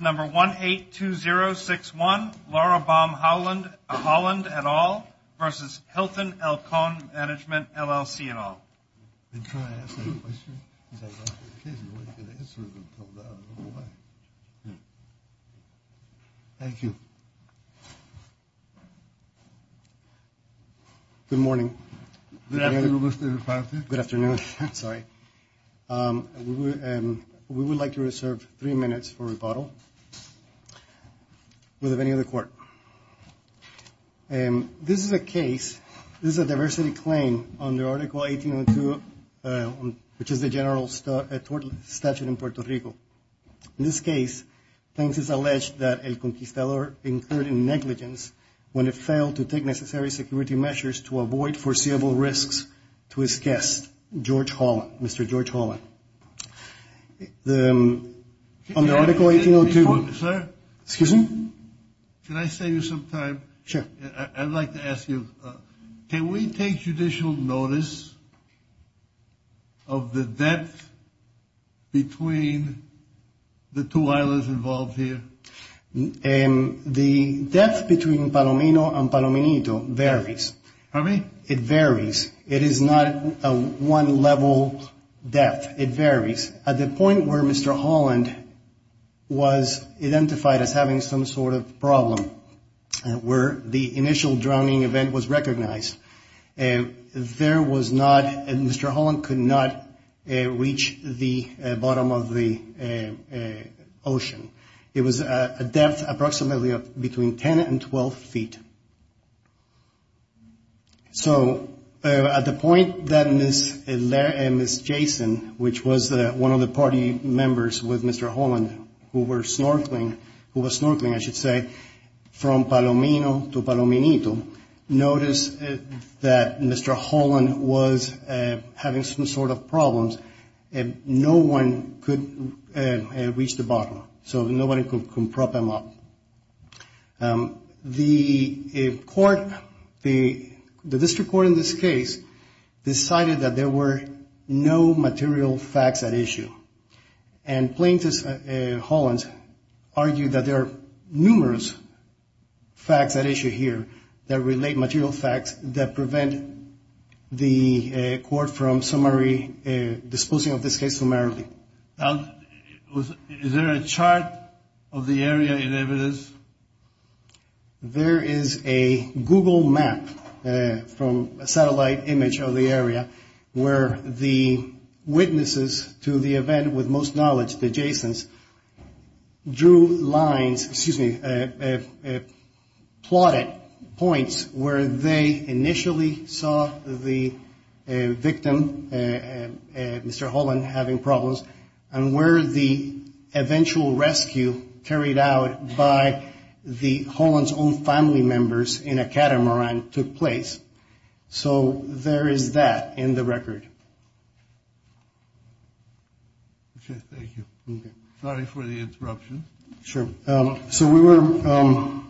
Number 182061, Laura Baum-Holland et al. versus Hilton El Con Management, LLC et al. Thank you. Good morning. Good afternoon, Mr. Reparative. Good afternoon. Sorry. We would like to reserve three minutes for rebuttal. Will there be any other court? This is a case, this is a diversity claim under Article 1802, which is the general statute in Puerto Rico. In this case, things is alleged that El Conquistador incurred negligence when it failed to take necessary security measures to avoid foreseeable risks to his guest, George Holland, Mr. George Holland. On the Article 1802. Sir? Excuse me? Can I save you some time? Sure. I would like to ask you, can we take judicial notice of the debt between the two islands involved here? The debt between Palomino and Palomino varies. Pardon me? It varies. It is not a one-level debt. It varies. At the point where Mr. Holland was identified as having some sort of problem, where the initial drowning event was recognized, there was not, Mr. Holland could not reach the bottom of the ocean. It was a depth approximately between 10 and 12 feet. So at the point that Ms. Jason, which was one of the party members with Mr. Holland, who was snorkeling, I should say, from Palomino to Palominito, noticed that Mr. Holland was having some sort of problems, no one could reach the bottom. So nobody could prop him up. The court, the district court in this case, decided that there were no material facts at issue. And plaintiffs, Holland, argued that there are numerous facts at issue here that relate material facts that prevent the court from summary, disposing of this case summarily. Now, is there a chart of the area in evidence? There is a Google map from a satellite image of the area where the witnesses to the event with most knowledge, the Jasons, drew lines, excuse me, plotted points where they initially saw the victim, Mr. Holland, having problems, and where the eventual rescue carried out by Holland's own family members in a catamaran took place. So there is that in the record. Okay, thank you. Sorry for the interruption. Sure. So we were...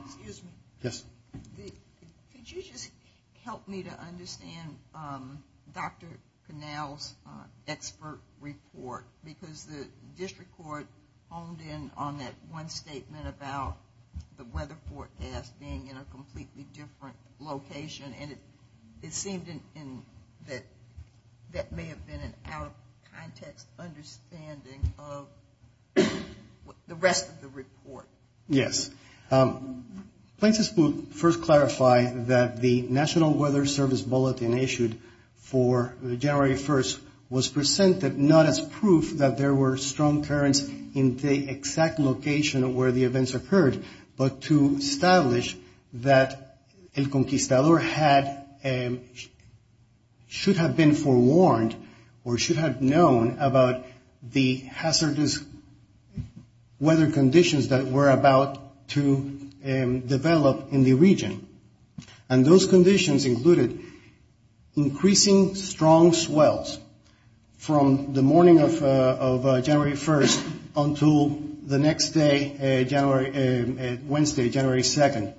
Excuse me. Yes. Could you just help me to understand Dr. Connell's expert report? Because the district court honed in on that one statement about the weather forecast being in a completely different location, and it seemed that that may have been an out-of-context understanding of the rest of the report. Yes. Plaintiffs will first clarify that the National Weather Service bulletin issued for January 1st was presented not as proof that there were strong currents in the exact location where the events occurred, but to establish that El Conquistador should have been forewarned or should have known about the hazardous weather conditions that were about to develop in the region. And those conditions included increasing strong swells from the morning of January 1st until the next day, Wednesday, January 2nd.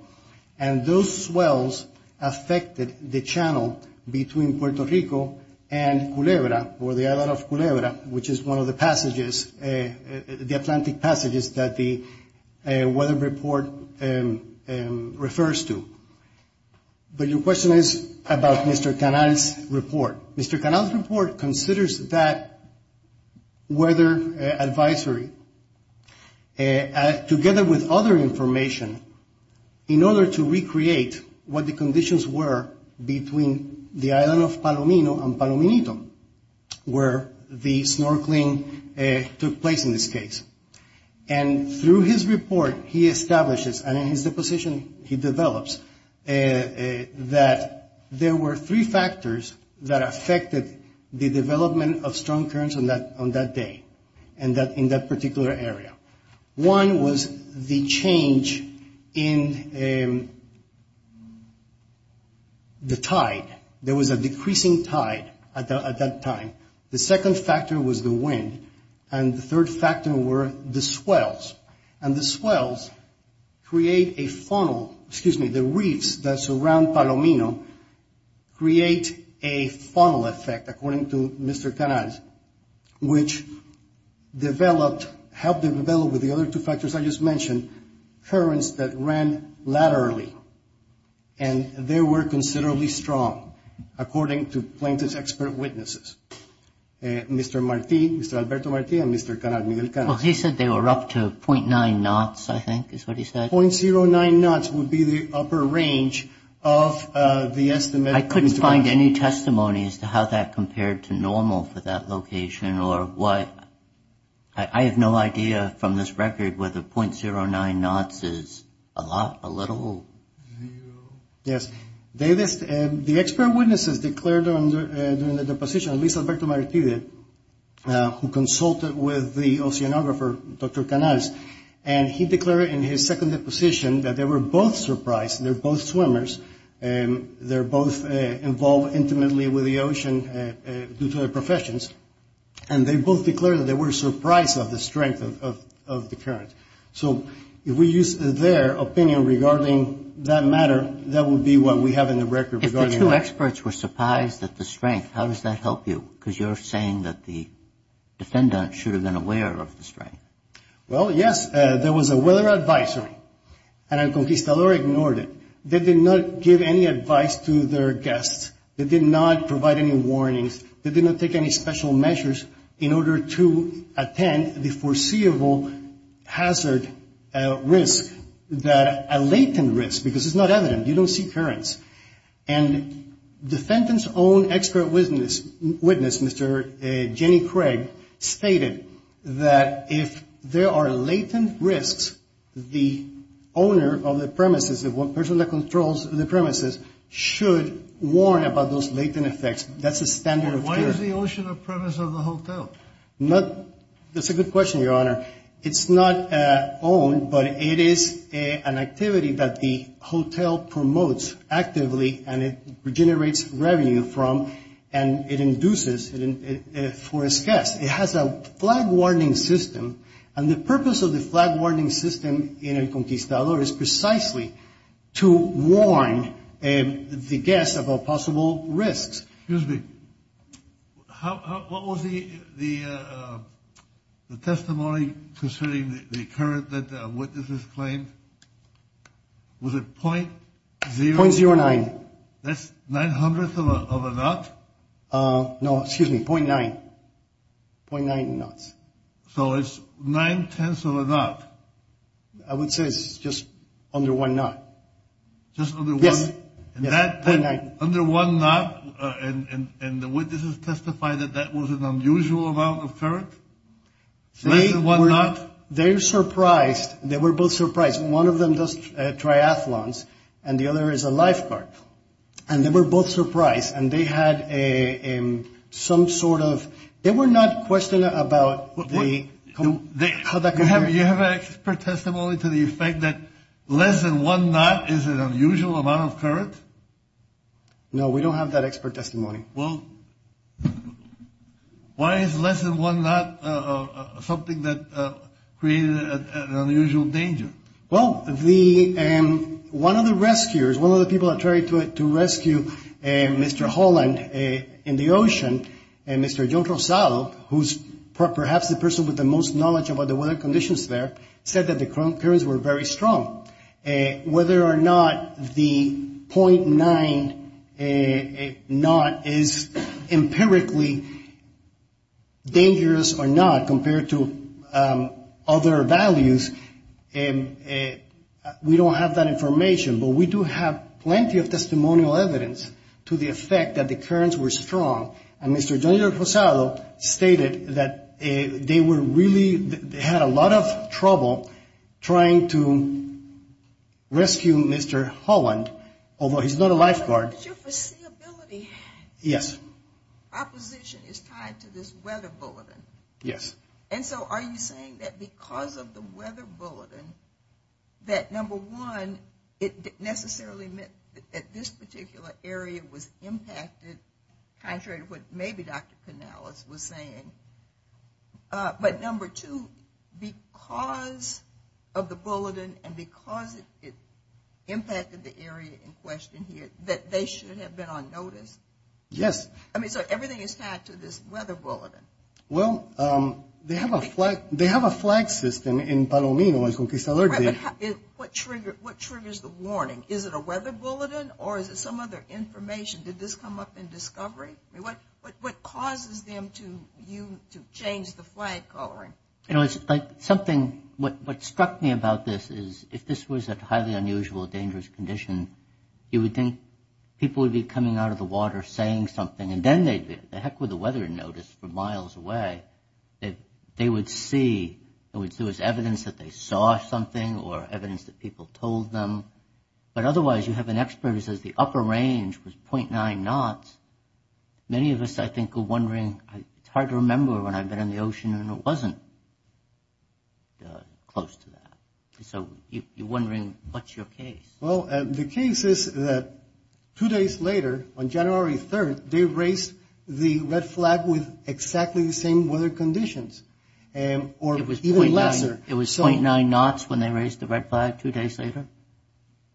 And those swells affected the channel between Puerto Rico and Culebra, or the island of Culebra, which is one of the passages, the Atlantic passages that the weather report refers to. But your question is about Mr. Connell's report. Mr. Connell's report considers that weather advisory, together with other information, in order to recreate what the conditions were between the island of Palomino and Palominito, where the snorkeling took place in this case. And through his report, he establishes, and in his deposition he develops, that there were three factors that affected the development of strong currents on that day in that particular area. One was the change in the tide. There was a decreasing tide at that time. The second factor was the wind. And the third factor were the swells. And the swells create a funnel, excuse me, the reefs that surround Palomino create a funnel effect, according to Mr. Connell's, which helped them develop, with the other two factors I just mentioned, currents that ran laterally, and they were considerably strong, according to plaintiff's expert witnesses, Mr. Marti, Mr. Alberto Marti, and Mr. Connell. Well, he said they were up to .9 knots, I think, is what he said. .09 knots would be the upper range of the estimate. I couldn't find any testimony as to how that compared to normal for that location or what. I have no idea from this record whether .09 knots is a lot, a little. Yes. The expert witnesses declared during the deposition, at least Alberto Marti did, who consulted with the oceanographer, Dr. Canales, and he declared in his second deposition that they were both surprised, they're both swimmers, they're both involved intimately with the ocean due to their professions, and they both declared that they were surprised at the strength of the current. So if we use their opinion regarding that matter, that would be what we have in the record regarding that. If the two experts were surprised at the strength, how does that help you? Because you're saying that the defendant should have been aware of the strength. Well, yes, there was a weather advisory, and El Conquistador ignored it. They did not give any advice to their guests. They did not provide any warnings. They did not take any special measures in order to attend the foreseeable hazard risk, a latent risk because it's not evident, you don't see currents. And the defendant's own expert witness, Mr. Jenny Craig, stated that if there are latent risks, the owner of the premises, the person that controls the premises, should warn about those latent effects. That's the standard of care. Why is the ocean a premise of the hotel? That's a good question, Your Honor. It's not owned, but it is an activity that the hotel promotes actively, and it generates revenue from, and it induces for its guests. It has a flag-warning system, and the purpose of the flag-warning system in El Conquistador is precisely to warn the guests about possible risks. Excuse me. What was the testimony concerning the current that witnesses claimed? Was it .09? .09. That's nine hundredths of a knot? No, excuse me, .9, .9 knots. So it's nine-tenths of a knot. I would say it's just under one knot. Just under one? Yes, .9. Under one knot, and the witnesses testified that that was an unusual amount of current? Less than one knot? They were surprised. They were both surprised. One of them does triathlons, and the other is a lifeguard. And they were both surprised, and they had some sort of, they were not questioning about how that compares. You have an expert testimony to the effect that less than one knot is an unusual amount of current? No, we don't have that expert testimony. Well, why is less than one knot something that created an unusual danger? Well, one of the rescuers, one of the people that tried to rescue Mr. Holland in the ocean, Mr. John Rosado, who's perhaps the person with the most knowledge about the weather conditions there, said that the currents were very strong. Whether or not the .9 knot is empirically dangerous or not compared to other values, we don't have that information. But we do have plenty of testimonial evidence to the effect that the currents were strong. And Mr. John Rosado stated that they were really, they had a lot of trouble trying to rescue Mr. Holland, although he's not a lifeguard. But your foreseeability. Yes. Opposition is tied to this weather bulletin. Yes. And so are you saying that because of the weather bulletin that, number one, it necessarily meant that this particular area was impacted, contrary to what maybe Dr. Canales was saying. But, number two, because of the bulletin and because it impacted the area in question here, that they should have been on notice? Yes. I mean, so everything is tied to this weather bulletin. Well, they have a flag system in Palomino, as Conquistador did. What triggers the warning? Is it a weather bulletin or is it some other information? Did this come up in discovery? What causes them to change the flag coloring? You know, it's like something, what struck me about this is if this was a highly unusual, dangerous condition, you would think people would be coming out of the water saying something, and then they'd be, the heck with the weather notice from miles away, that they would see, it was evidence that they saw something or evidence that people told them. But otherwise, you have an expert who says the upper range was 0.9 knots. Many of us, I think, are wondering, it's hard to remember when I've been in the ocean and it wasn't close to that. So you're wondering, what's your case? Well, the case is that two days later, on January 3rd, they raised the red flag with exactly the same weather conditions, or even lesser. It was 0.9 knots when they raised the red flag two days later?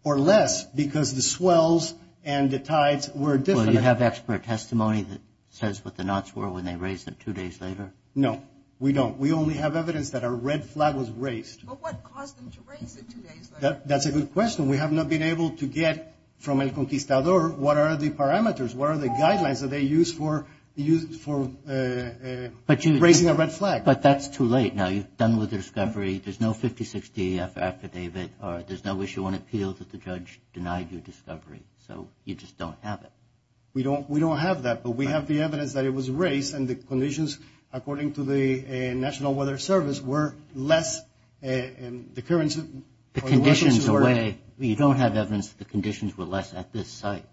Or less, because the swells and the tides were different. Well, do you have expert testimony that says what the knots were when they raised them two days later? No, we don't. We only have evidence that a red flag was raised. But what caused them to raise it two days later? That's a good question. We have not been able to get from El Conquistador what are the parameters, what are the guidelines that they used for raising a red flag. But that's too late now. You've done with the discovery. There's no 56 DEF affidavit, or there's no issue on appeal that the judge denied your discovery. So you just don't have it. We don't have that, but we have the evidence that it was raised, and the conditions, according to the National Weather Service, were less. The conditions away, you don't have evidence that the conditions were less at this site?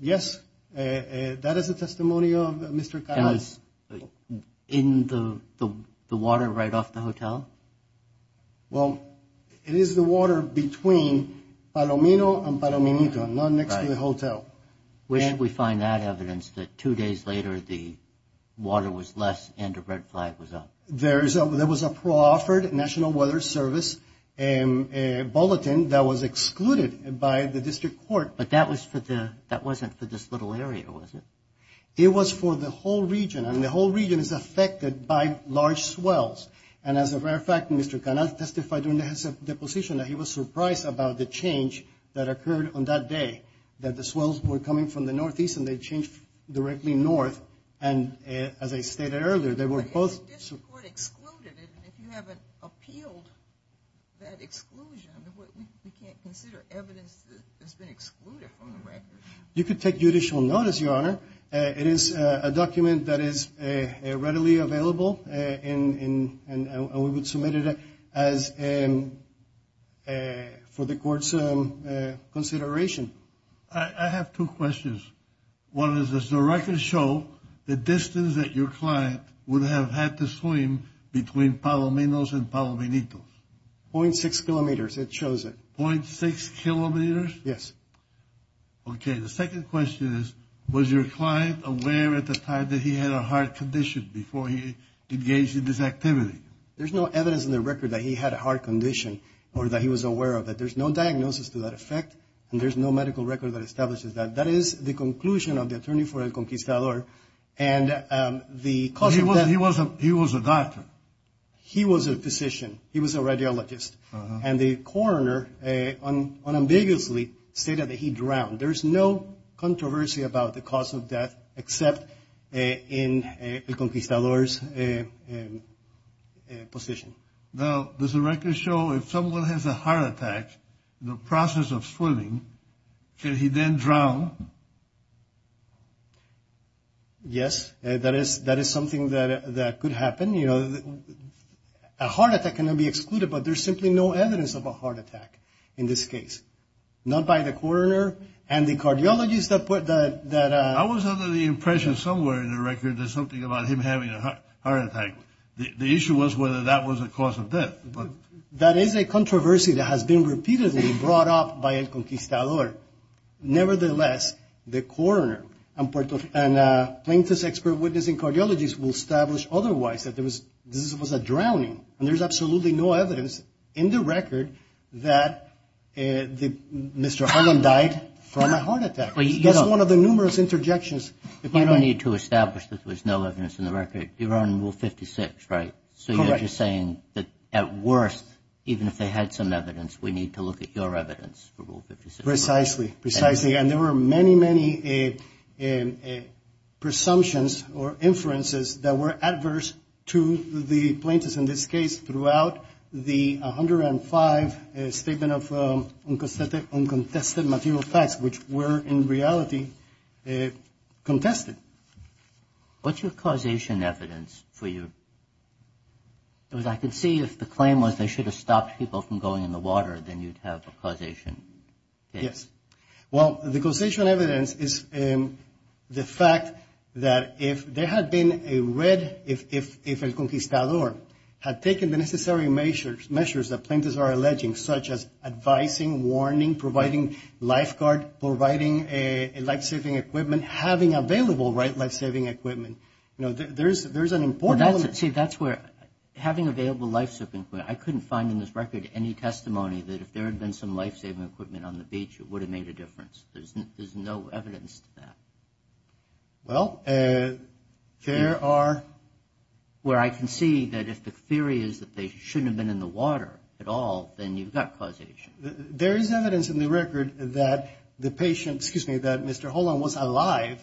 Yes. That is the testimony of Mr. Calais. In the water right off the hotel? Well, it is the water between Palomino and Palominito, not next to the hotel. Where did we find that evidence that two days later the water was less and a red flag was up? There was a pro-offered National Weather Service bulletin that was excluded by the district court. But that wasn't for this little area, was it? It was for the whole region, and the whole region is affected by large swells. And as a matter of fact, Mr. Calais testified in his deposition that he was surprised about the change that occurred on that day, that the swells were coming from the northeast and they changed directly north. And as I stated earlier, they were both- But the district court excluded it, and if you haven't appealed that exclusion, we can't consider evidence that has been excluded from the record. You could take judicial notice, Your Honor. It is a document that is readily available, and we would submit it for the court's consideration. I have two questions. One is, does the record show the distance that your client would have had to swim between Palominos and Palominitos? 0.6 kilometers, it shows it. 0.6 kilometers? Yes. Okay. The second question is, was your client aware at the time that he had a heart condition before he engaged in this activity? There's no evidence in the record that he had a heart condition or that he was aware of it. There's no diagnosis to that effect, and there's no medical record that establishes that. That is the conclusion of the attorney for El Conquistador, and the cause of death- He was a doctor. He was a physician. He was a radiologist. And the coroner unambiguously stated that he drowned. There's no controversy about the cause of death except in El Conquistador's position. Now, does the record show if someone has a heart attack, the process of swimming, can he then drown? Yes, that is something that could happen. A heart attack cannot be excluded, but there's simply no evidence of a heart attack in this case. Not by the coroner and the cardiologist that- I was under the impression somewhere in the record there's something about him having a heart attack. The issue was whether that was a cause of death. That is a controversy that has been repeatedly brought up by El Conquistador. Nevertheless, the coroner and plaintiff's expert witness and cardiologist will establish otherwise, that this was a drowning, and there's absolutely no evidence in the record that Mr. Holland died from a heart attack. That's one of the numerous interjections. You don't need to establish that there's no evidence in the record. You're on Rule 56, right? Correct. So you're just saying that at worst, even if they had some evidence, we need to look at your evidence for Rule 56? Precisely. And there were many, many presumptions or inferences that were adverse to the plaintiffs in this case throughout the 105 Statement of Uncontested Material Facts, which were in reality contested. What's your causation evidence for your- because I can see if the claim was they should have stopped people from going in the water, then you'd have a causation case. Yes. Well, the causation evidence is the fact that if there had been a red- if El Conquistador had taken the necessary measures that plaintiffs are alleging, such as advising, warning, providing lifeguard, providing life-saving equipment, having available life-saving equipment, there's an important- See, that's where- having available life-saving equipment. I couldn't find in this record any testimony that if there had been some life-saving equipment on the beach, it would have made a difference. There's no evidence to that. Well, there are- Where I can see that if the theory is that they shouldn't have been in the water at all, then you've got causation. There is evidence in the record that the patient- excuse me, that Mr. Holland was alive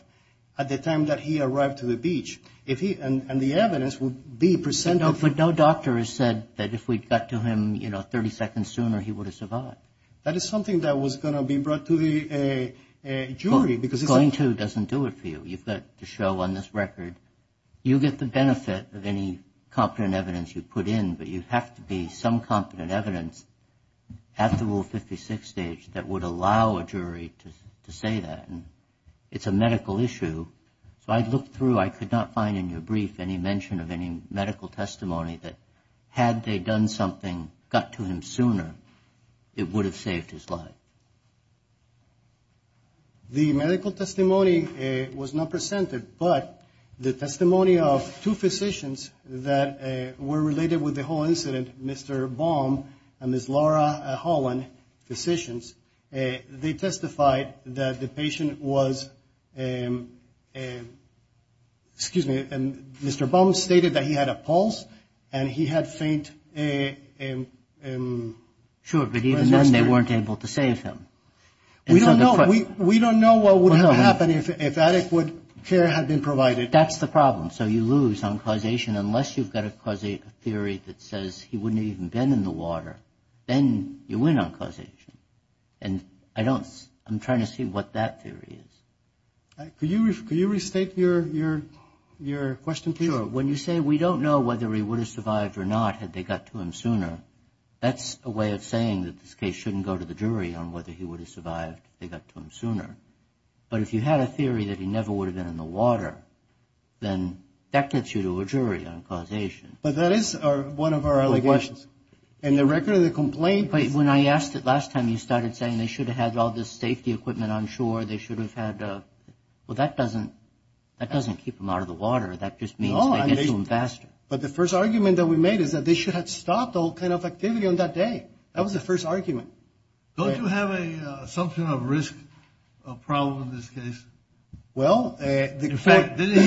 at the time that he arrived to the beach. And the evidence would be presented- No doctor has said that if we'd got to him, you know, 30 seconds sooner, he would have survived. That is something that was going to be brought to the jury because- Going to doesn't do it for you. You've got to show on this record you get the benefit of any competent evidence you put in, but you have to be some competent evidence at the Rule 56 stage that would allow a jury to say that. It's a medical issue. So I looked through. I could not find in your brief any mention of any medical testimony that had they done something, got to him sooner, it would have saved his life. The medical testimony was not presented, but the testimony of two physicians that were related with the whole incident, Mr. Baum and Ms. Laura Holland, physicians, they testified that the patient was- excuse me, Mr. Baum stated that he had a pulse and he had faint- Sure, but even then they weren't able to save him. We don't know what would have happened if adequate care had been provided. That's the problem. So you lose on causation unless you've got a theory that says he wouldn't have even been in the water. Then you win on causation. And I don't- I'm trying to see what that theory is. Could you restate your question, please? Sure. When you say we don't know whether he would have survived or not had they got to him sooner, that's a way of saying that this case shouldn't go to the jury on whether he would have survived if they got to him sooner. But if you had a theory that he never would have been in the water, then that gets you to a jury on causation. But that is one of our allegations. And the record of the complaint- But when I asked it last time, you started saying they should have had all this safety equipment on shore, they should have had- well, that doesn't keep them out of the water. That just means they get to him faster. But the first argument that we made is that they should have stopped all kind of activity on that day. That was the first argument. Don't you have an assumption of risk problem in this case? Well, the fact- Didn't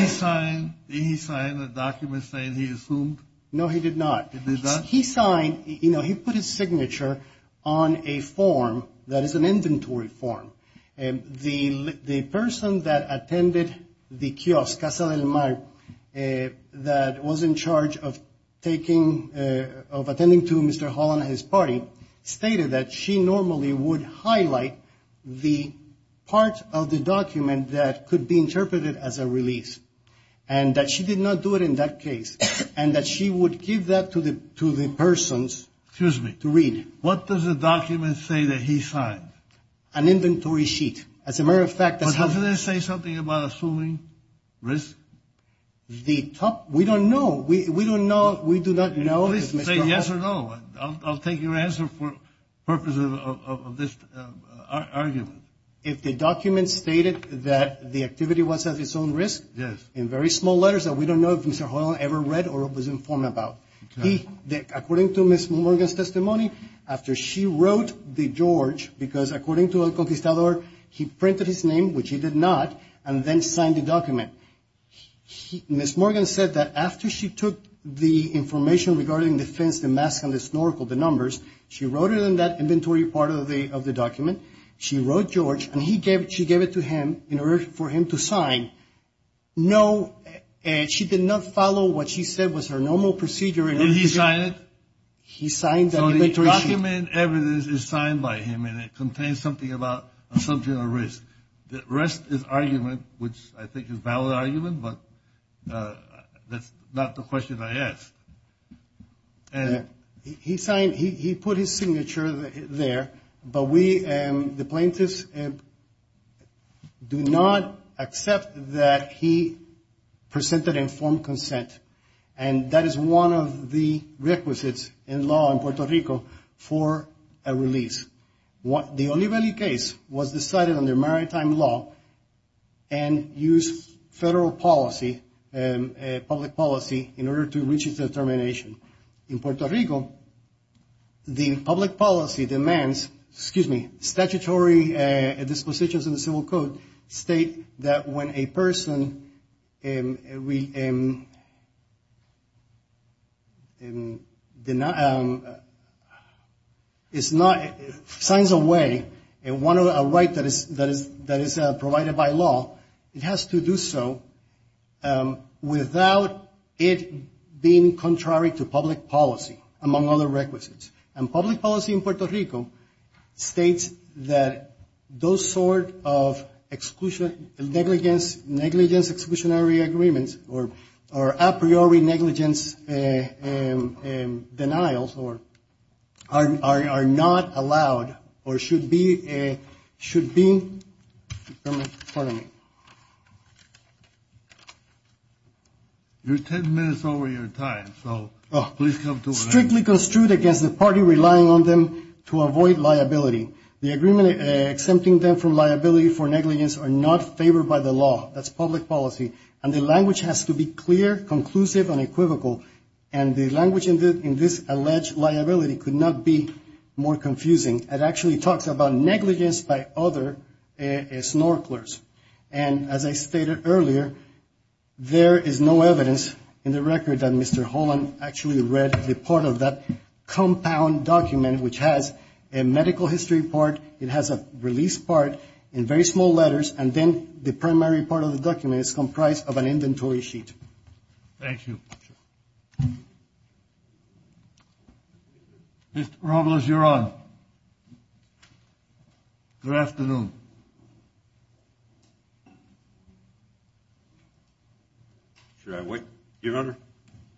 he sign a document saying he assumed? No, he did not. He did not? He put his signature on a form that is an inventory form. The person that attended the kiosk, Casa del Mar, that was in charge of attending to Mr. Holland and his party, stated that she normally would highlight the part of the document that could be interpreted as a release, and that she did not do it in that case, and that she would give that to the persons to read. Excuse me. What does the document say that he signed? An inventory sheet. As a matter of fact- But doesn't it say something about assuming risk? The top- we don't know. We don't know. We do not know. Please say yes or no. I'll take your answer for the purpose of this argument. If the document stated that the activity was at its own risk- Yes. In very small letters that we don't know if Mr. Holland ever read or was informed about. According to Ms. Morgan's testimony, after she wrote the George, because according to El Conquistador, he printed his name, which he did not, and then signed the document. Ms. Morgan said that after she took the information regarding the fence, the mask, and the snorkel, the numbers, she wrote it in that inventory part of the document. She wrote George, and she gave it to him in order for him to sign. No, she did not follow what she said was her normal procedure. Did he sign it? He signed the inventory sheet. So the document evidence is signed by him, and it contains something about assuming risk. The rest is argument, which I think is valid argument, but that's not the question I asked. He put his signature there, but we, the plaintiffs, do not accept that he presented informed consent, and that is one of the requisites in law in Puerto Rico for a release. The Olivelli case was decided under maritime law and used federal policy, public policy, in order to reach its determination. In Puerto Rico, the public policy demands, excuse me, statutory dispositions in the Civil Code state that when a person signs away a right that is provided by law, it has to do so without it being contrary to public policy, among other requisites. And public policy in Puerto Rico states that those sort of negligence exclusionary agreements or a priori negligence denials are not allowed or should be, pardon me. You're ten minutes over your time, so please come to an end. Strictly construed against the party relying on them to avoid liability. The agreement exempting them from liability for negligence are not favored by the law. That's public policy, and the language has to be clear, conclusive, and equivocal, and the language in this alleged liability could not be more confusing. It actually talks about negligence by other snorkelers, and as I stated earlier, there is no evidence in the record that Mr. Holland actually read the part of that compound document which has a medical history part, it has a release part in very small letters, and then the primary part of the document is comprised of an inventory sheet. Thank you. Mr. Robles, you're on. Good afternoon. Should I wait, Your Honor?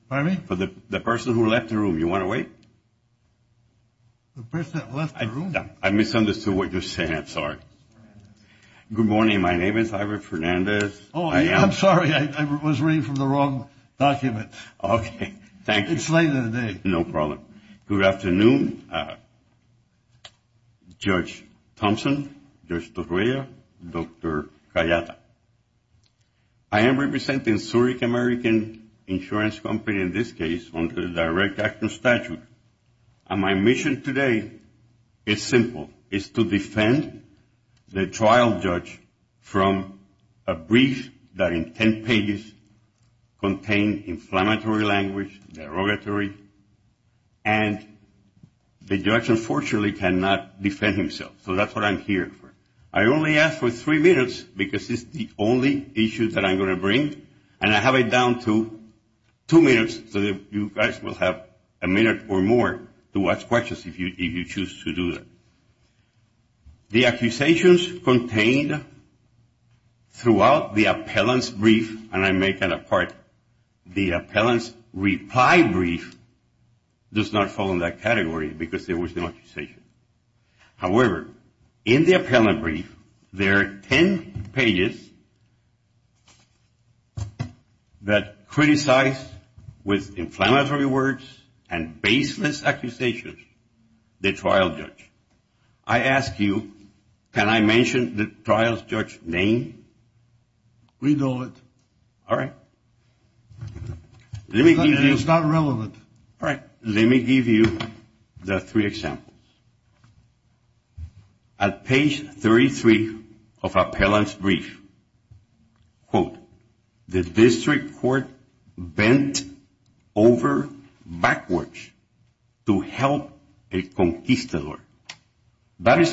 Pardon me? For the person who left the room, you want to wait? The person that left the room? I misunderstood what you said. I'm sorry. Good morning. My name is Ira Fernandez. I'm sorry. I was reading from the wrong document. Okay. Thank you. It's late in the day. No problem. Good afternoon, Judge Thompson, Judge Torrilla, Dr. Kayata. I am representing Zurich American Insurance Company in this case under the direct action statute, and my mission today is simple. It's to defend the trial judge from a brief that in 10 pages contained inflammatory language, derogatory, and the judge unfortunately cannot defend himself. So that's what I'm here for. I only ask for three minutes because it's the only issue that I'm going to bring, and I have it down to two minutes so that you guys will have a minute or more to ask questions if you choose to do that. The accusations contained throughout the appellant's brief, and I make that a part, the appellant's reply brief does not fall in that category because there was no accusation. However, in the appellant brief there are 10 pages that criticize with inflammatory words and baseless accusations the trial judge. I ask you, can I mention the trial judge's name? We know it. All right. It's not relevant. All right. Let me give you the three examples. At page 33 of appellant's brief, quote, the district court bent over backwards to help a conquistador. That is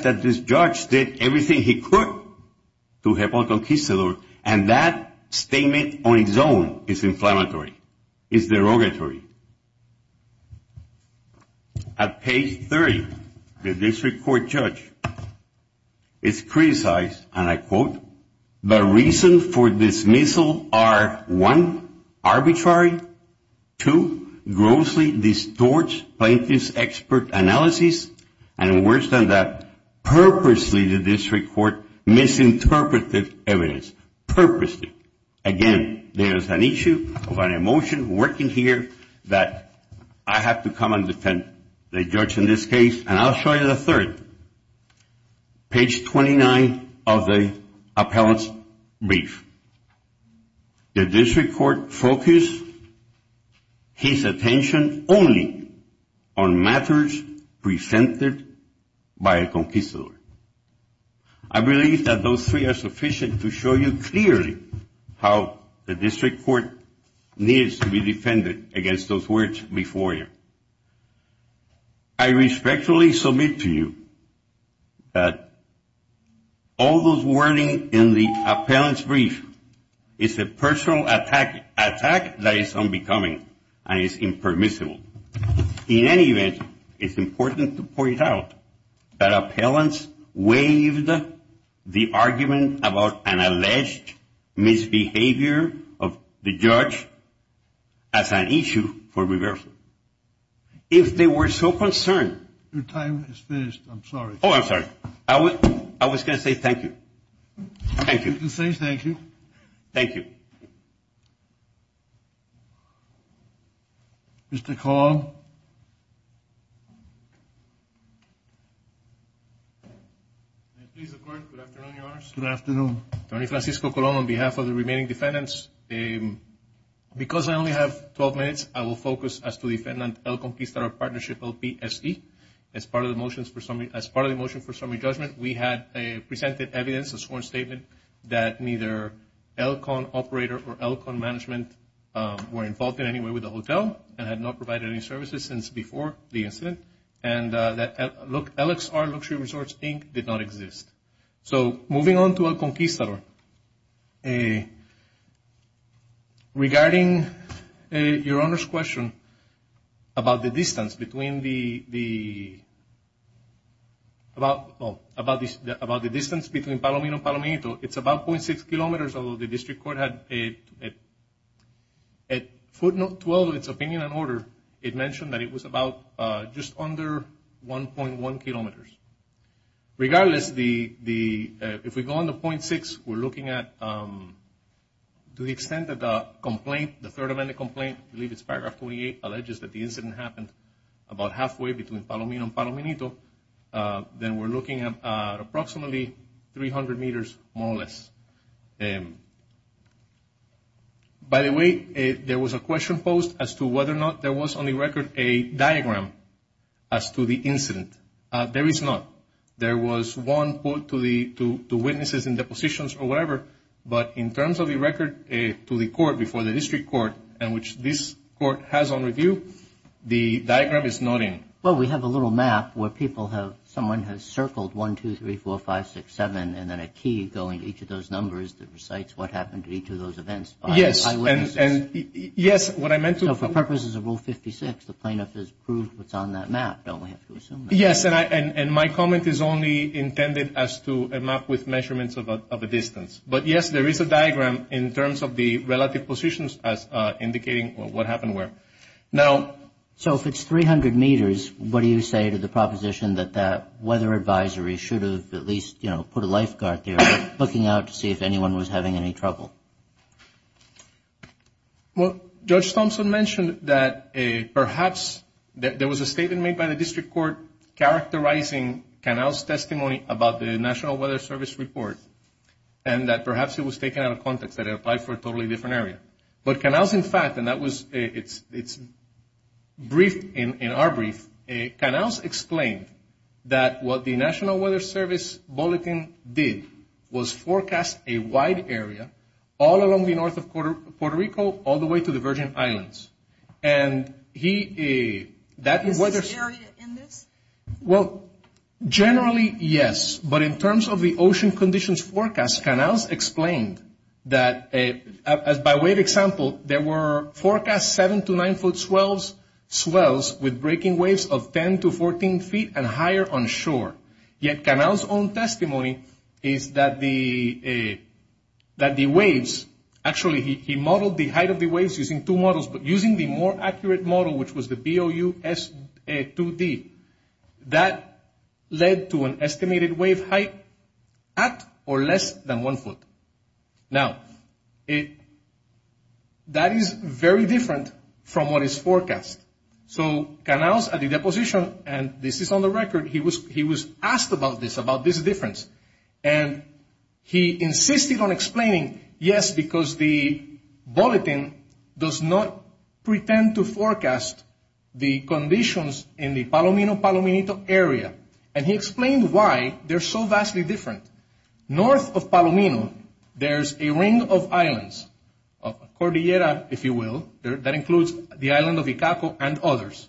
that this judge did everything he could to help a conquistador, and that statement on its own is inflammatory, is derogatory. At page 30, the district court judge is criticized, and I quote, the reason for dismissal are, one, arbitrary, two, grossly distorts plaintiff's expert analysis, and worse than that, purposely the district court misinterpreted evidence, purposely. Again, there is an issue of an emotion working here that I have to come and defend the judge in this case, and I'll show you the third. Page 29 of the appellant's brief. The district court focused his attention only on matters presented by a conquistador. I believe that those three are sufficient to show you clearly how the district court needs to be defended against those words before you. I respectfully submit to you that all those wording in the appellant's brief is a personal attack that is unbecoming and is impermissible. In any event, it's important to point out that appellants waived the argument about an alleged misbehavior of the judge as an issue for reversal. If they were so concerned. Your time is finished. I'm sorry. Oh, I'm sorry. I was going to say thank you. Thank you. You can say thank you. Thank you. Mr. Colon. May it please the court, good afternoon, Your Honor. Good afternoon. Tony Francisco Colon on behalf of the remaining defendants. Because I only have 12 minutes, I will focus as to defendant El Conquistador Partnership, LPSE. As part of the motion for summary judgment, we had presented evidence, a sworn statement, that neither El Con operator or El Con management were involved in any way with the hotel and had not provided any services since before the incident. And that LXR, Luxury Resorts, Inc. did not exist. So moving on to El Conquistador. Regarding Your Honor's question about the distance between the, about the distance between Palomino and Palomino, it's about .6 kilometers, although the district court had, at footnote 12 of its opinion and order, it mentioned that it was about just under 1.1 kilometers. Regardless, the, if we go on to .6, we're looking at, to the extent that the complaint, the third amendment complaint, I believe it's paragraph 28, alleges that the incident happened about halfway between Palomino and Palomino, then we're looking at approximately 300 meters more or less. By the way, there was a question posed as to whether or not there was on the record a diagram as to the incident. There is not. There was one put to the, to witnesses in depositions or whatever, but in terms of the record to the court before the district court, and which this court has on review, the diagram is not in. Well, we have a little map where people have, someone has circled 1, 2, 3, 4, 5, 6, 7, and then a key going to each of those numbers that recites what happened to each of those events. Yes, and, yes, what I meant to. So for purposes of Rule 56, the plaintiff has proved what's on that map. Don't we have to assume that? Yes, and my comment is only intended as to a map with measurements of a distance. But, yes, there is a diagram in terms of the relative positions as indicating what happened where. Now. So if it's 300 meters, what do you say to the proposition that that weather advisory should have at least, you know, put a lifeguard there looking out to see if anyone was having any trouble? Well, Judge Thompson mentioned that perhaps there was a statement made by the district court characterizing Canals' testimony about the National Weather Service report, and that perhaps it was taken out of context, that it applied for a totally different area. But Canals, in fact, and that was its brief, in our brief, Canals explained that what the National Weather Service Bulletin did was forecast a wide area all along the north of Puerto Rico all the way to the Virgin Islands. And he, that is weather. Is this area in this? Well, generally, yes. But in terms of the ocean conditions forecast, Canals explained that, by way of example, there were forecast 7 to 9 foot swells with breaking waves of 10 to 14 feet and higher on shore. Yet Canals' own testimony is that the waves, actually he modeled the height of the waves using two models, but using the more accurate model, which was the BOUS2D, that led to an estimated wave height at or less than one foot. Now, that is very different from what is forecast. So Canals, at the deposition, and this is on the record, he was asked about this, about this difference. And he insisted on explaining, yes, because the Bulletin does not pretend to forecast the conditions in the Palomino, Palominito area. And he explained why they're so vastly different. North of Palomino, there's a ring of islands, Cordillera, if you will, that includes the island of Icaco and others.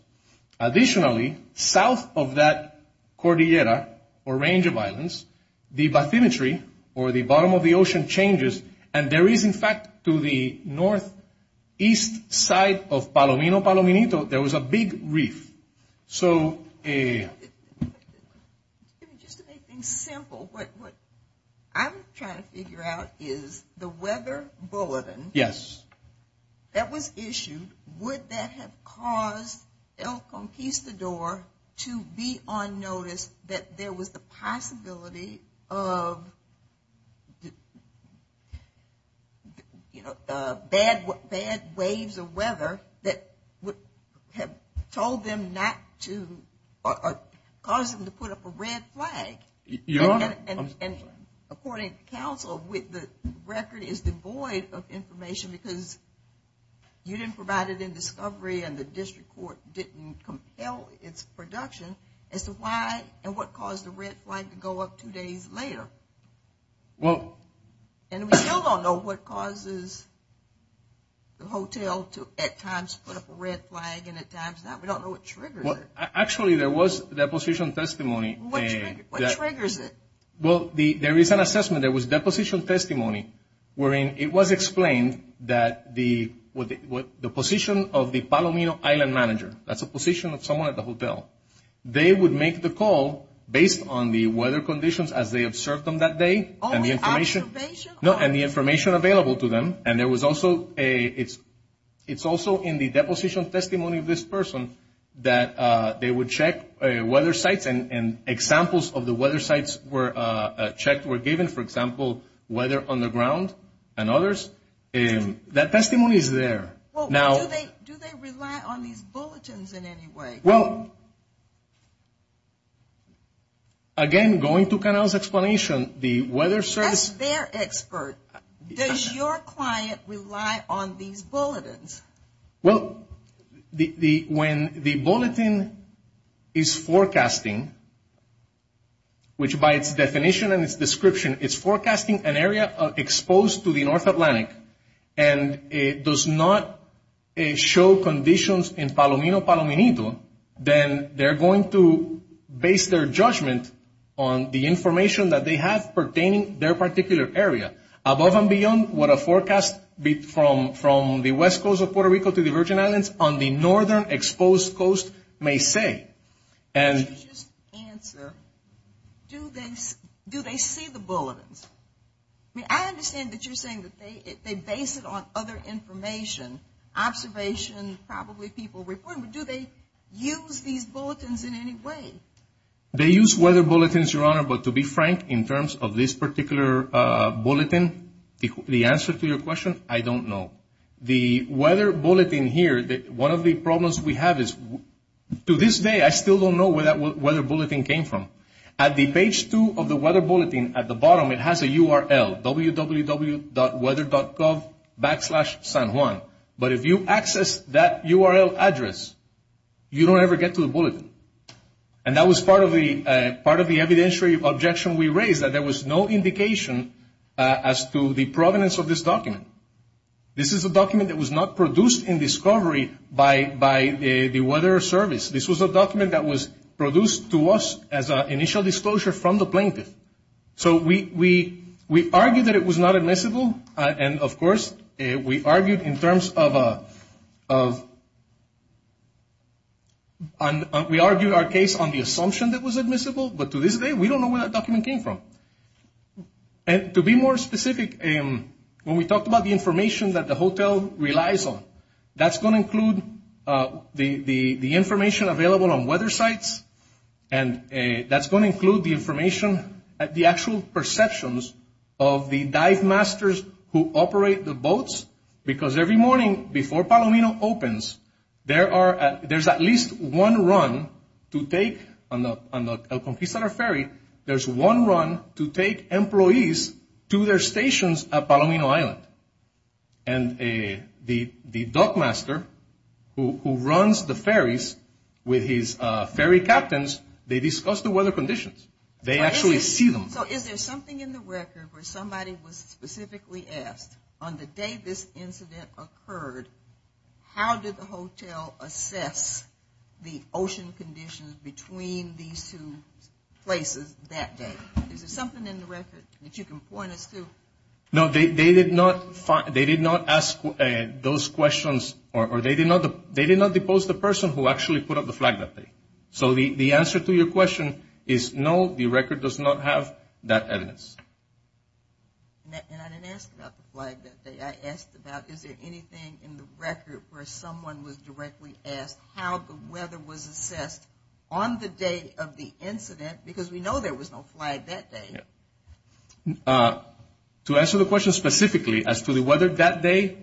Additionally, south of that Cordillera, or range of islands, the bathymetry, or the bottom of the ocean, changes. And there is, in fact, to the northeast side of Palomino, Palominito, there was a big reef. So... Just to make things simple, what I'm trying to figure out is the weather bulletin. Yes. That was issued. Would that have caused El Conquistador to be on notice that there was the possibility of, you know, bad waves of weather that would have told them not to, or caused them to put up a red flag? Your Honor, I'm sorry. According to counsel, the record is devoid of information because you didn't provide it in discovery, and the district court didn't compel its production. As to why and what caused the red flag to go up two days later. Well... And we still don't know what causes the hotel to, at times, put up a red flag, and at times not. We don't know what triggers it. Actually, there was deposition testimony. What triggers it? Well, there is an assessment. There was deposition testimony wherein it was explained that the position of the Palomino Island Manager, that's a position of someone at the hotel, they would make the call based on the weather conditions as they observed them that day and the information available to them. And there was also a... It's also in the deposition testimony of this person that they would check weather sites and examples of the weather sites were checked, were given, for example, weather on the ground and others. That testimony is there. Now... Do they rely on these bulletins in any way? Well... Again, going to Canel's explanation, the weather service... That's their expert. Does your client rely on these bulletins? Well, when the bulletin is forecasting, which by its definition and its description, it's forecasting an area exposed to the North Atlantic and it does not show conditions in Palomino, Palomino, then they're going to base their judgment on the information that they have pertaining their particular area. Above and beyond what a forecast from the west coast of Puerto Rico to the Virgin Islands on the northern exposed coast may say. Could you just answer, do they see the bulletins? I mean, I understand that you're saying that they base it on other information, observation, probably people reporting, but do they use these bulletins in any way? They use weather bulletins, Your Honor, but to be frank, in terms of this particular bulletin, the answer to your question, I don't know. The weather bulletin here, one of the problems we have is to this day, I still don't know where that weather bulletin came from. At the page two of the weather bulletin, at the bottom, it has a URL, www.weather.gov backslash San Juan. But if you access that URL address, you don't ever get to the bulletin. And that was part of the evidentiary objection we raised, that there was no indication as to the provenance of this document. This is a document that was not produced in discovery by the weather service. This was a document that was produced to us as an initial disclosure from the plaintiff. So we argued that it was not admissible, and of course, we argued in terms of a, we argued our case on the assumption that it was admissible, but to this day, we don't know where that document came from. To be more specific, when we talked about the information that the hotel relies on, that's going to include the information available on weather sites, and that's going to include the actual perceptions of the dive masters who operate the boats, because every morning before Palomino opens, there's at least one run to take, on the El Conquistador ferry, there's one run to take employees to their stations at Palomino Island. And the dock master who runs the ferries with his ferry captains, they discuss the weather conditions. They actually see them. So is there something in the record where somebody was specifically asked, on the day this incident occurred, how did the hotel assess the ocean conditions between these two places that day? Is there something in the record that you can point us to? No, they did not ask those questions, or they did not depose the person who actually put up the flag that day. So the answer to your question is no, the record does not have that evidence. And I didn't ask about the flag that day. I asked about is there anything in the record where someone was directly asked how the weather was assessed on the day of the incident, because we know there was no flag that day. To answer the question specifically as to the weather that day,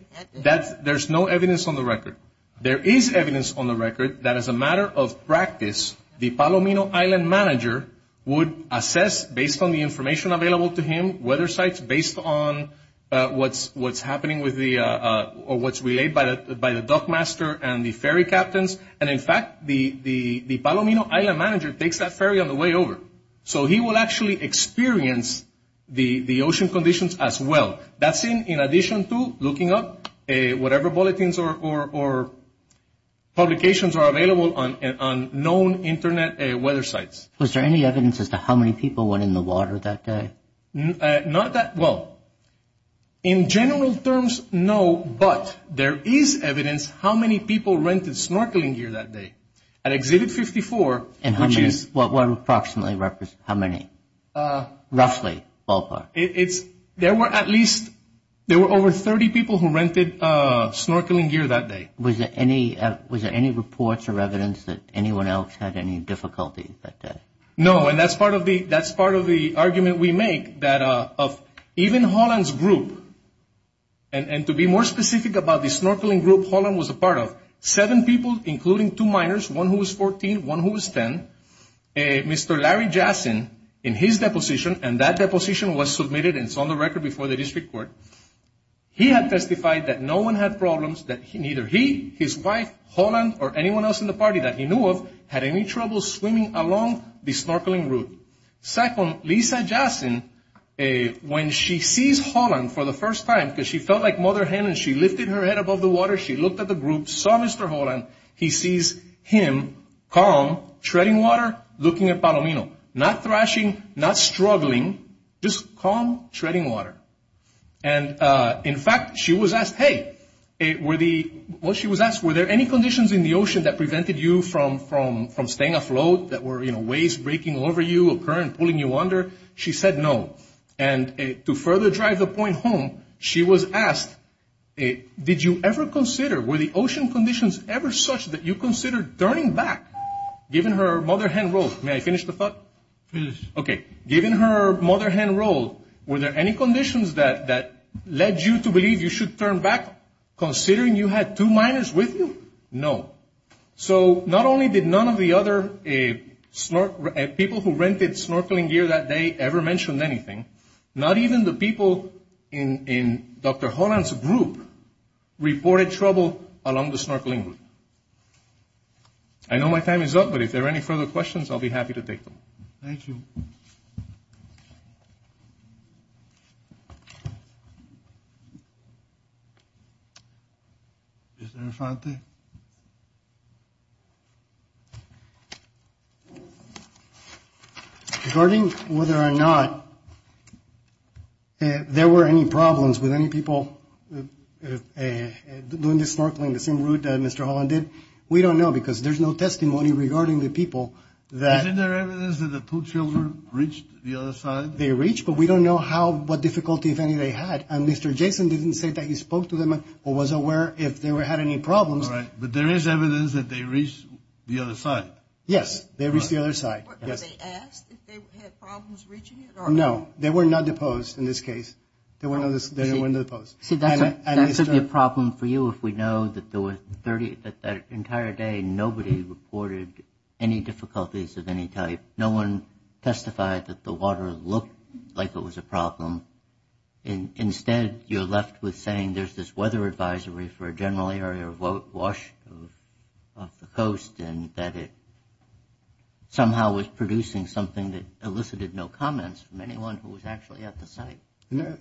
there's no evidence on the record. There is evidence on the record that as a matter of practice, the Palomino Island manager would assess, based on the information available to him, weather sites based on what's happening with the, or what's relayed by the dock master and the ferry captains. And in fact, the Palomino Island manager takes that ferry on the way over. So he will actually experience the ocean conditions as well. That's in addition to looking up whatever bulletins or publications are available on known Internet weather sites. Was there any evidence as to how many people went in the water that day? Not that, well, in general terms, no, but there is evidence how many people rented snorkeling suits and snorkeling gear that day. At Exhibit 54, which is... And how many, what approximately, how many? Roughly, ballpark. There were at least, there were over 30 people who rented snorkeling gear that day. Was there any reports or evidence that anyone else had any difficulty that day? No, and that's part of the argument we make, that of even Holland's group, and to be more specific about the snorkeling group Holland was a part of, seven people, including two minors, one who was 14, one who was 10, Mr. Larry Jassin, in his deposition, and that deposition was submitted and it's on the record before the district court, he had testified that no one had problems, that neither he, his wife, Holland, or anyone else in the party that he knew of, had any trouble swimming along the snorkeling route. Second, Lisa Jassin, when she sees Holland for the first time, because she felt like mother hen and she lifted her head above the water, she looked at the group, saw Mr. Holland, he sees him, calm, treading water, looking at Palomino, not thrashing, not struggling, just calm, treading water. And in fact, she was asked, hey, were the, what she was asked, were there any conditions in the ocean that prevented you from staying afloat, that were, you know, waves breaking over you, a current pulling you under? She said no. And to further drive the point home, she was asked, did you ever consider, were the ocean conditions ever such that you considered turning back, given her mother hen role? May I finish the thought? Finish. Okay. Given her mother hen role, were there any conditions that led you to believe you should turn back, considering you had two minors with you? No. So not only did none of the other people who rented snorkeling gear that day ever mention anything, not even the people in Dr. Holland's group reported trouble along the snorkeling route. I know my time is up, but if there are any further questions, I'll be happy to take them. Thank you. Mr. Infante? Regarding whether or not there were any problems with any people doing the snorkeling, the same route that Mr. Holland did, we don't know because there's no testimony regarding the people that... Isn't there evidence that the two children reached the other side? They reached, but we don't know how, what difficulty, if any, they had. And Mr. Jason didn't say that he spoke to them or was aware if they had any problems. But there is evidence that they reached the other side. Yes, they reached the other side. Were they asked if they had problems reaching it? No, they were not deposed in this case. They weren't deposed. See, that could be a problem for you if we know that that entire day nobody reported any difficulties of any type. No one testified that the water looked like it was a problem. Instead, you're left with saying there's this weather advisory for a general area of wash off the coast and that it somehow was producing something that elicited no comments from anyone who was actually at the site.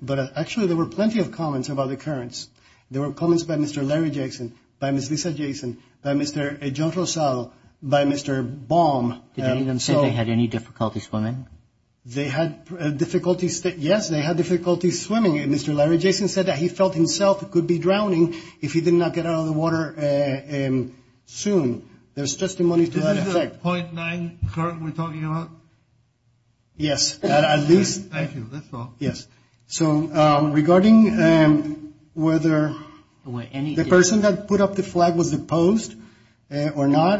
But actually, there were plenty of comments about the occurrence. There were comments by Mr. Larry Jason, by Ms. Lisa Jason, by Mr. John Rosal, by Mr. Baum. Did any of them say they had any difficulty swimming? They had difficulties, yes, they had difficulties swimming. Mr. Larry Jason said that he felt himself could be drowning if he did not get out of the water soon. There's testimony to that effect. Is this the .9 current we're talking about? Yes, at least. Thank you, that's all. Yes, so regarding whether the person that put up the flag was deposed or not,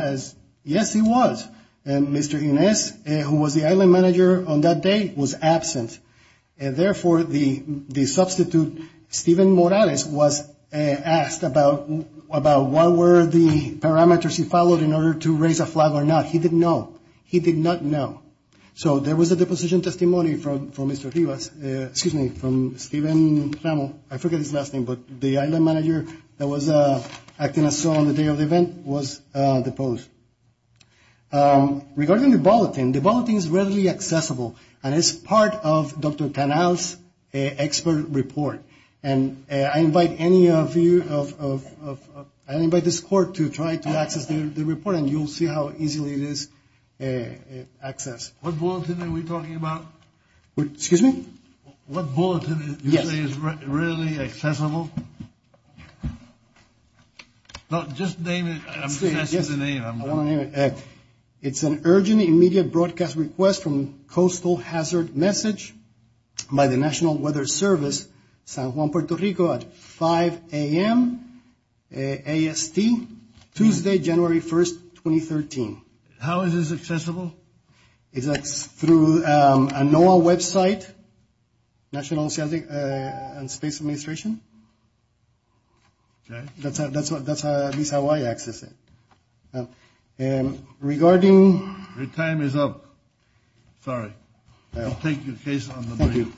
yes, he was. Mr. Inez, who was the island manager on that day, was absent. And therefore, the substitute, Stephen Morales, was asked about what were the parameters he followed in order to raise a flag or not. He did not know. So there was a deposition testimony from Mr. Rivas, excuse me, from Stephen Ramos, I forget his last name, but the island manager that was acting as sole on the day of the event was deposed. Regarding the bulletin, the bulletin is readily accessible and is part of Dr. Canal's expert report. And I invite any of you, I invite this court to try to access the report and you'll see how easily it is accessed. What bulletin are we talking about? Excuse me? What bulletin do you say is readily accessible? Just name it. I'm going to name it. Correct. It's an urgent immediate broadcast request from coastal hazard message by the National Weather Service, San Juan, Puerto Rico, at 5 a.m. AST, Tuesday, January 1st, 2013. How is this accessible? It's through a NOAA website, National Oceanic and Space Administration. Okay. That's at least how I access it. And regarding... Your time is up. Sorry. I'll take your case on the review.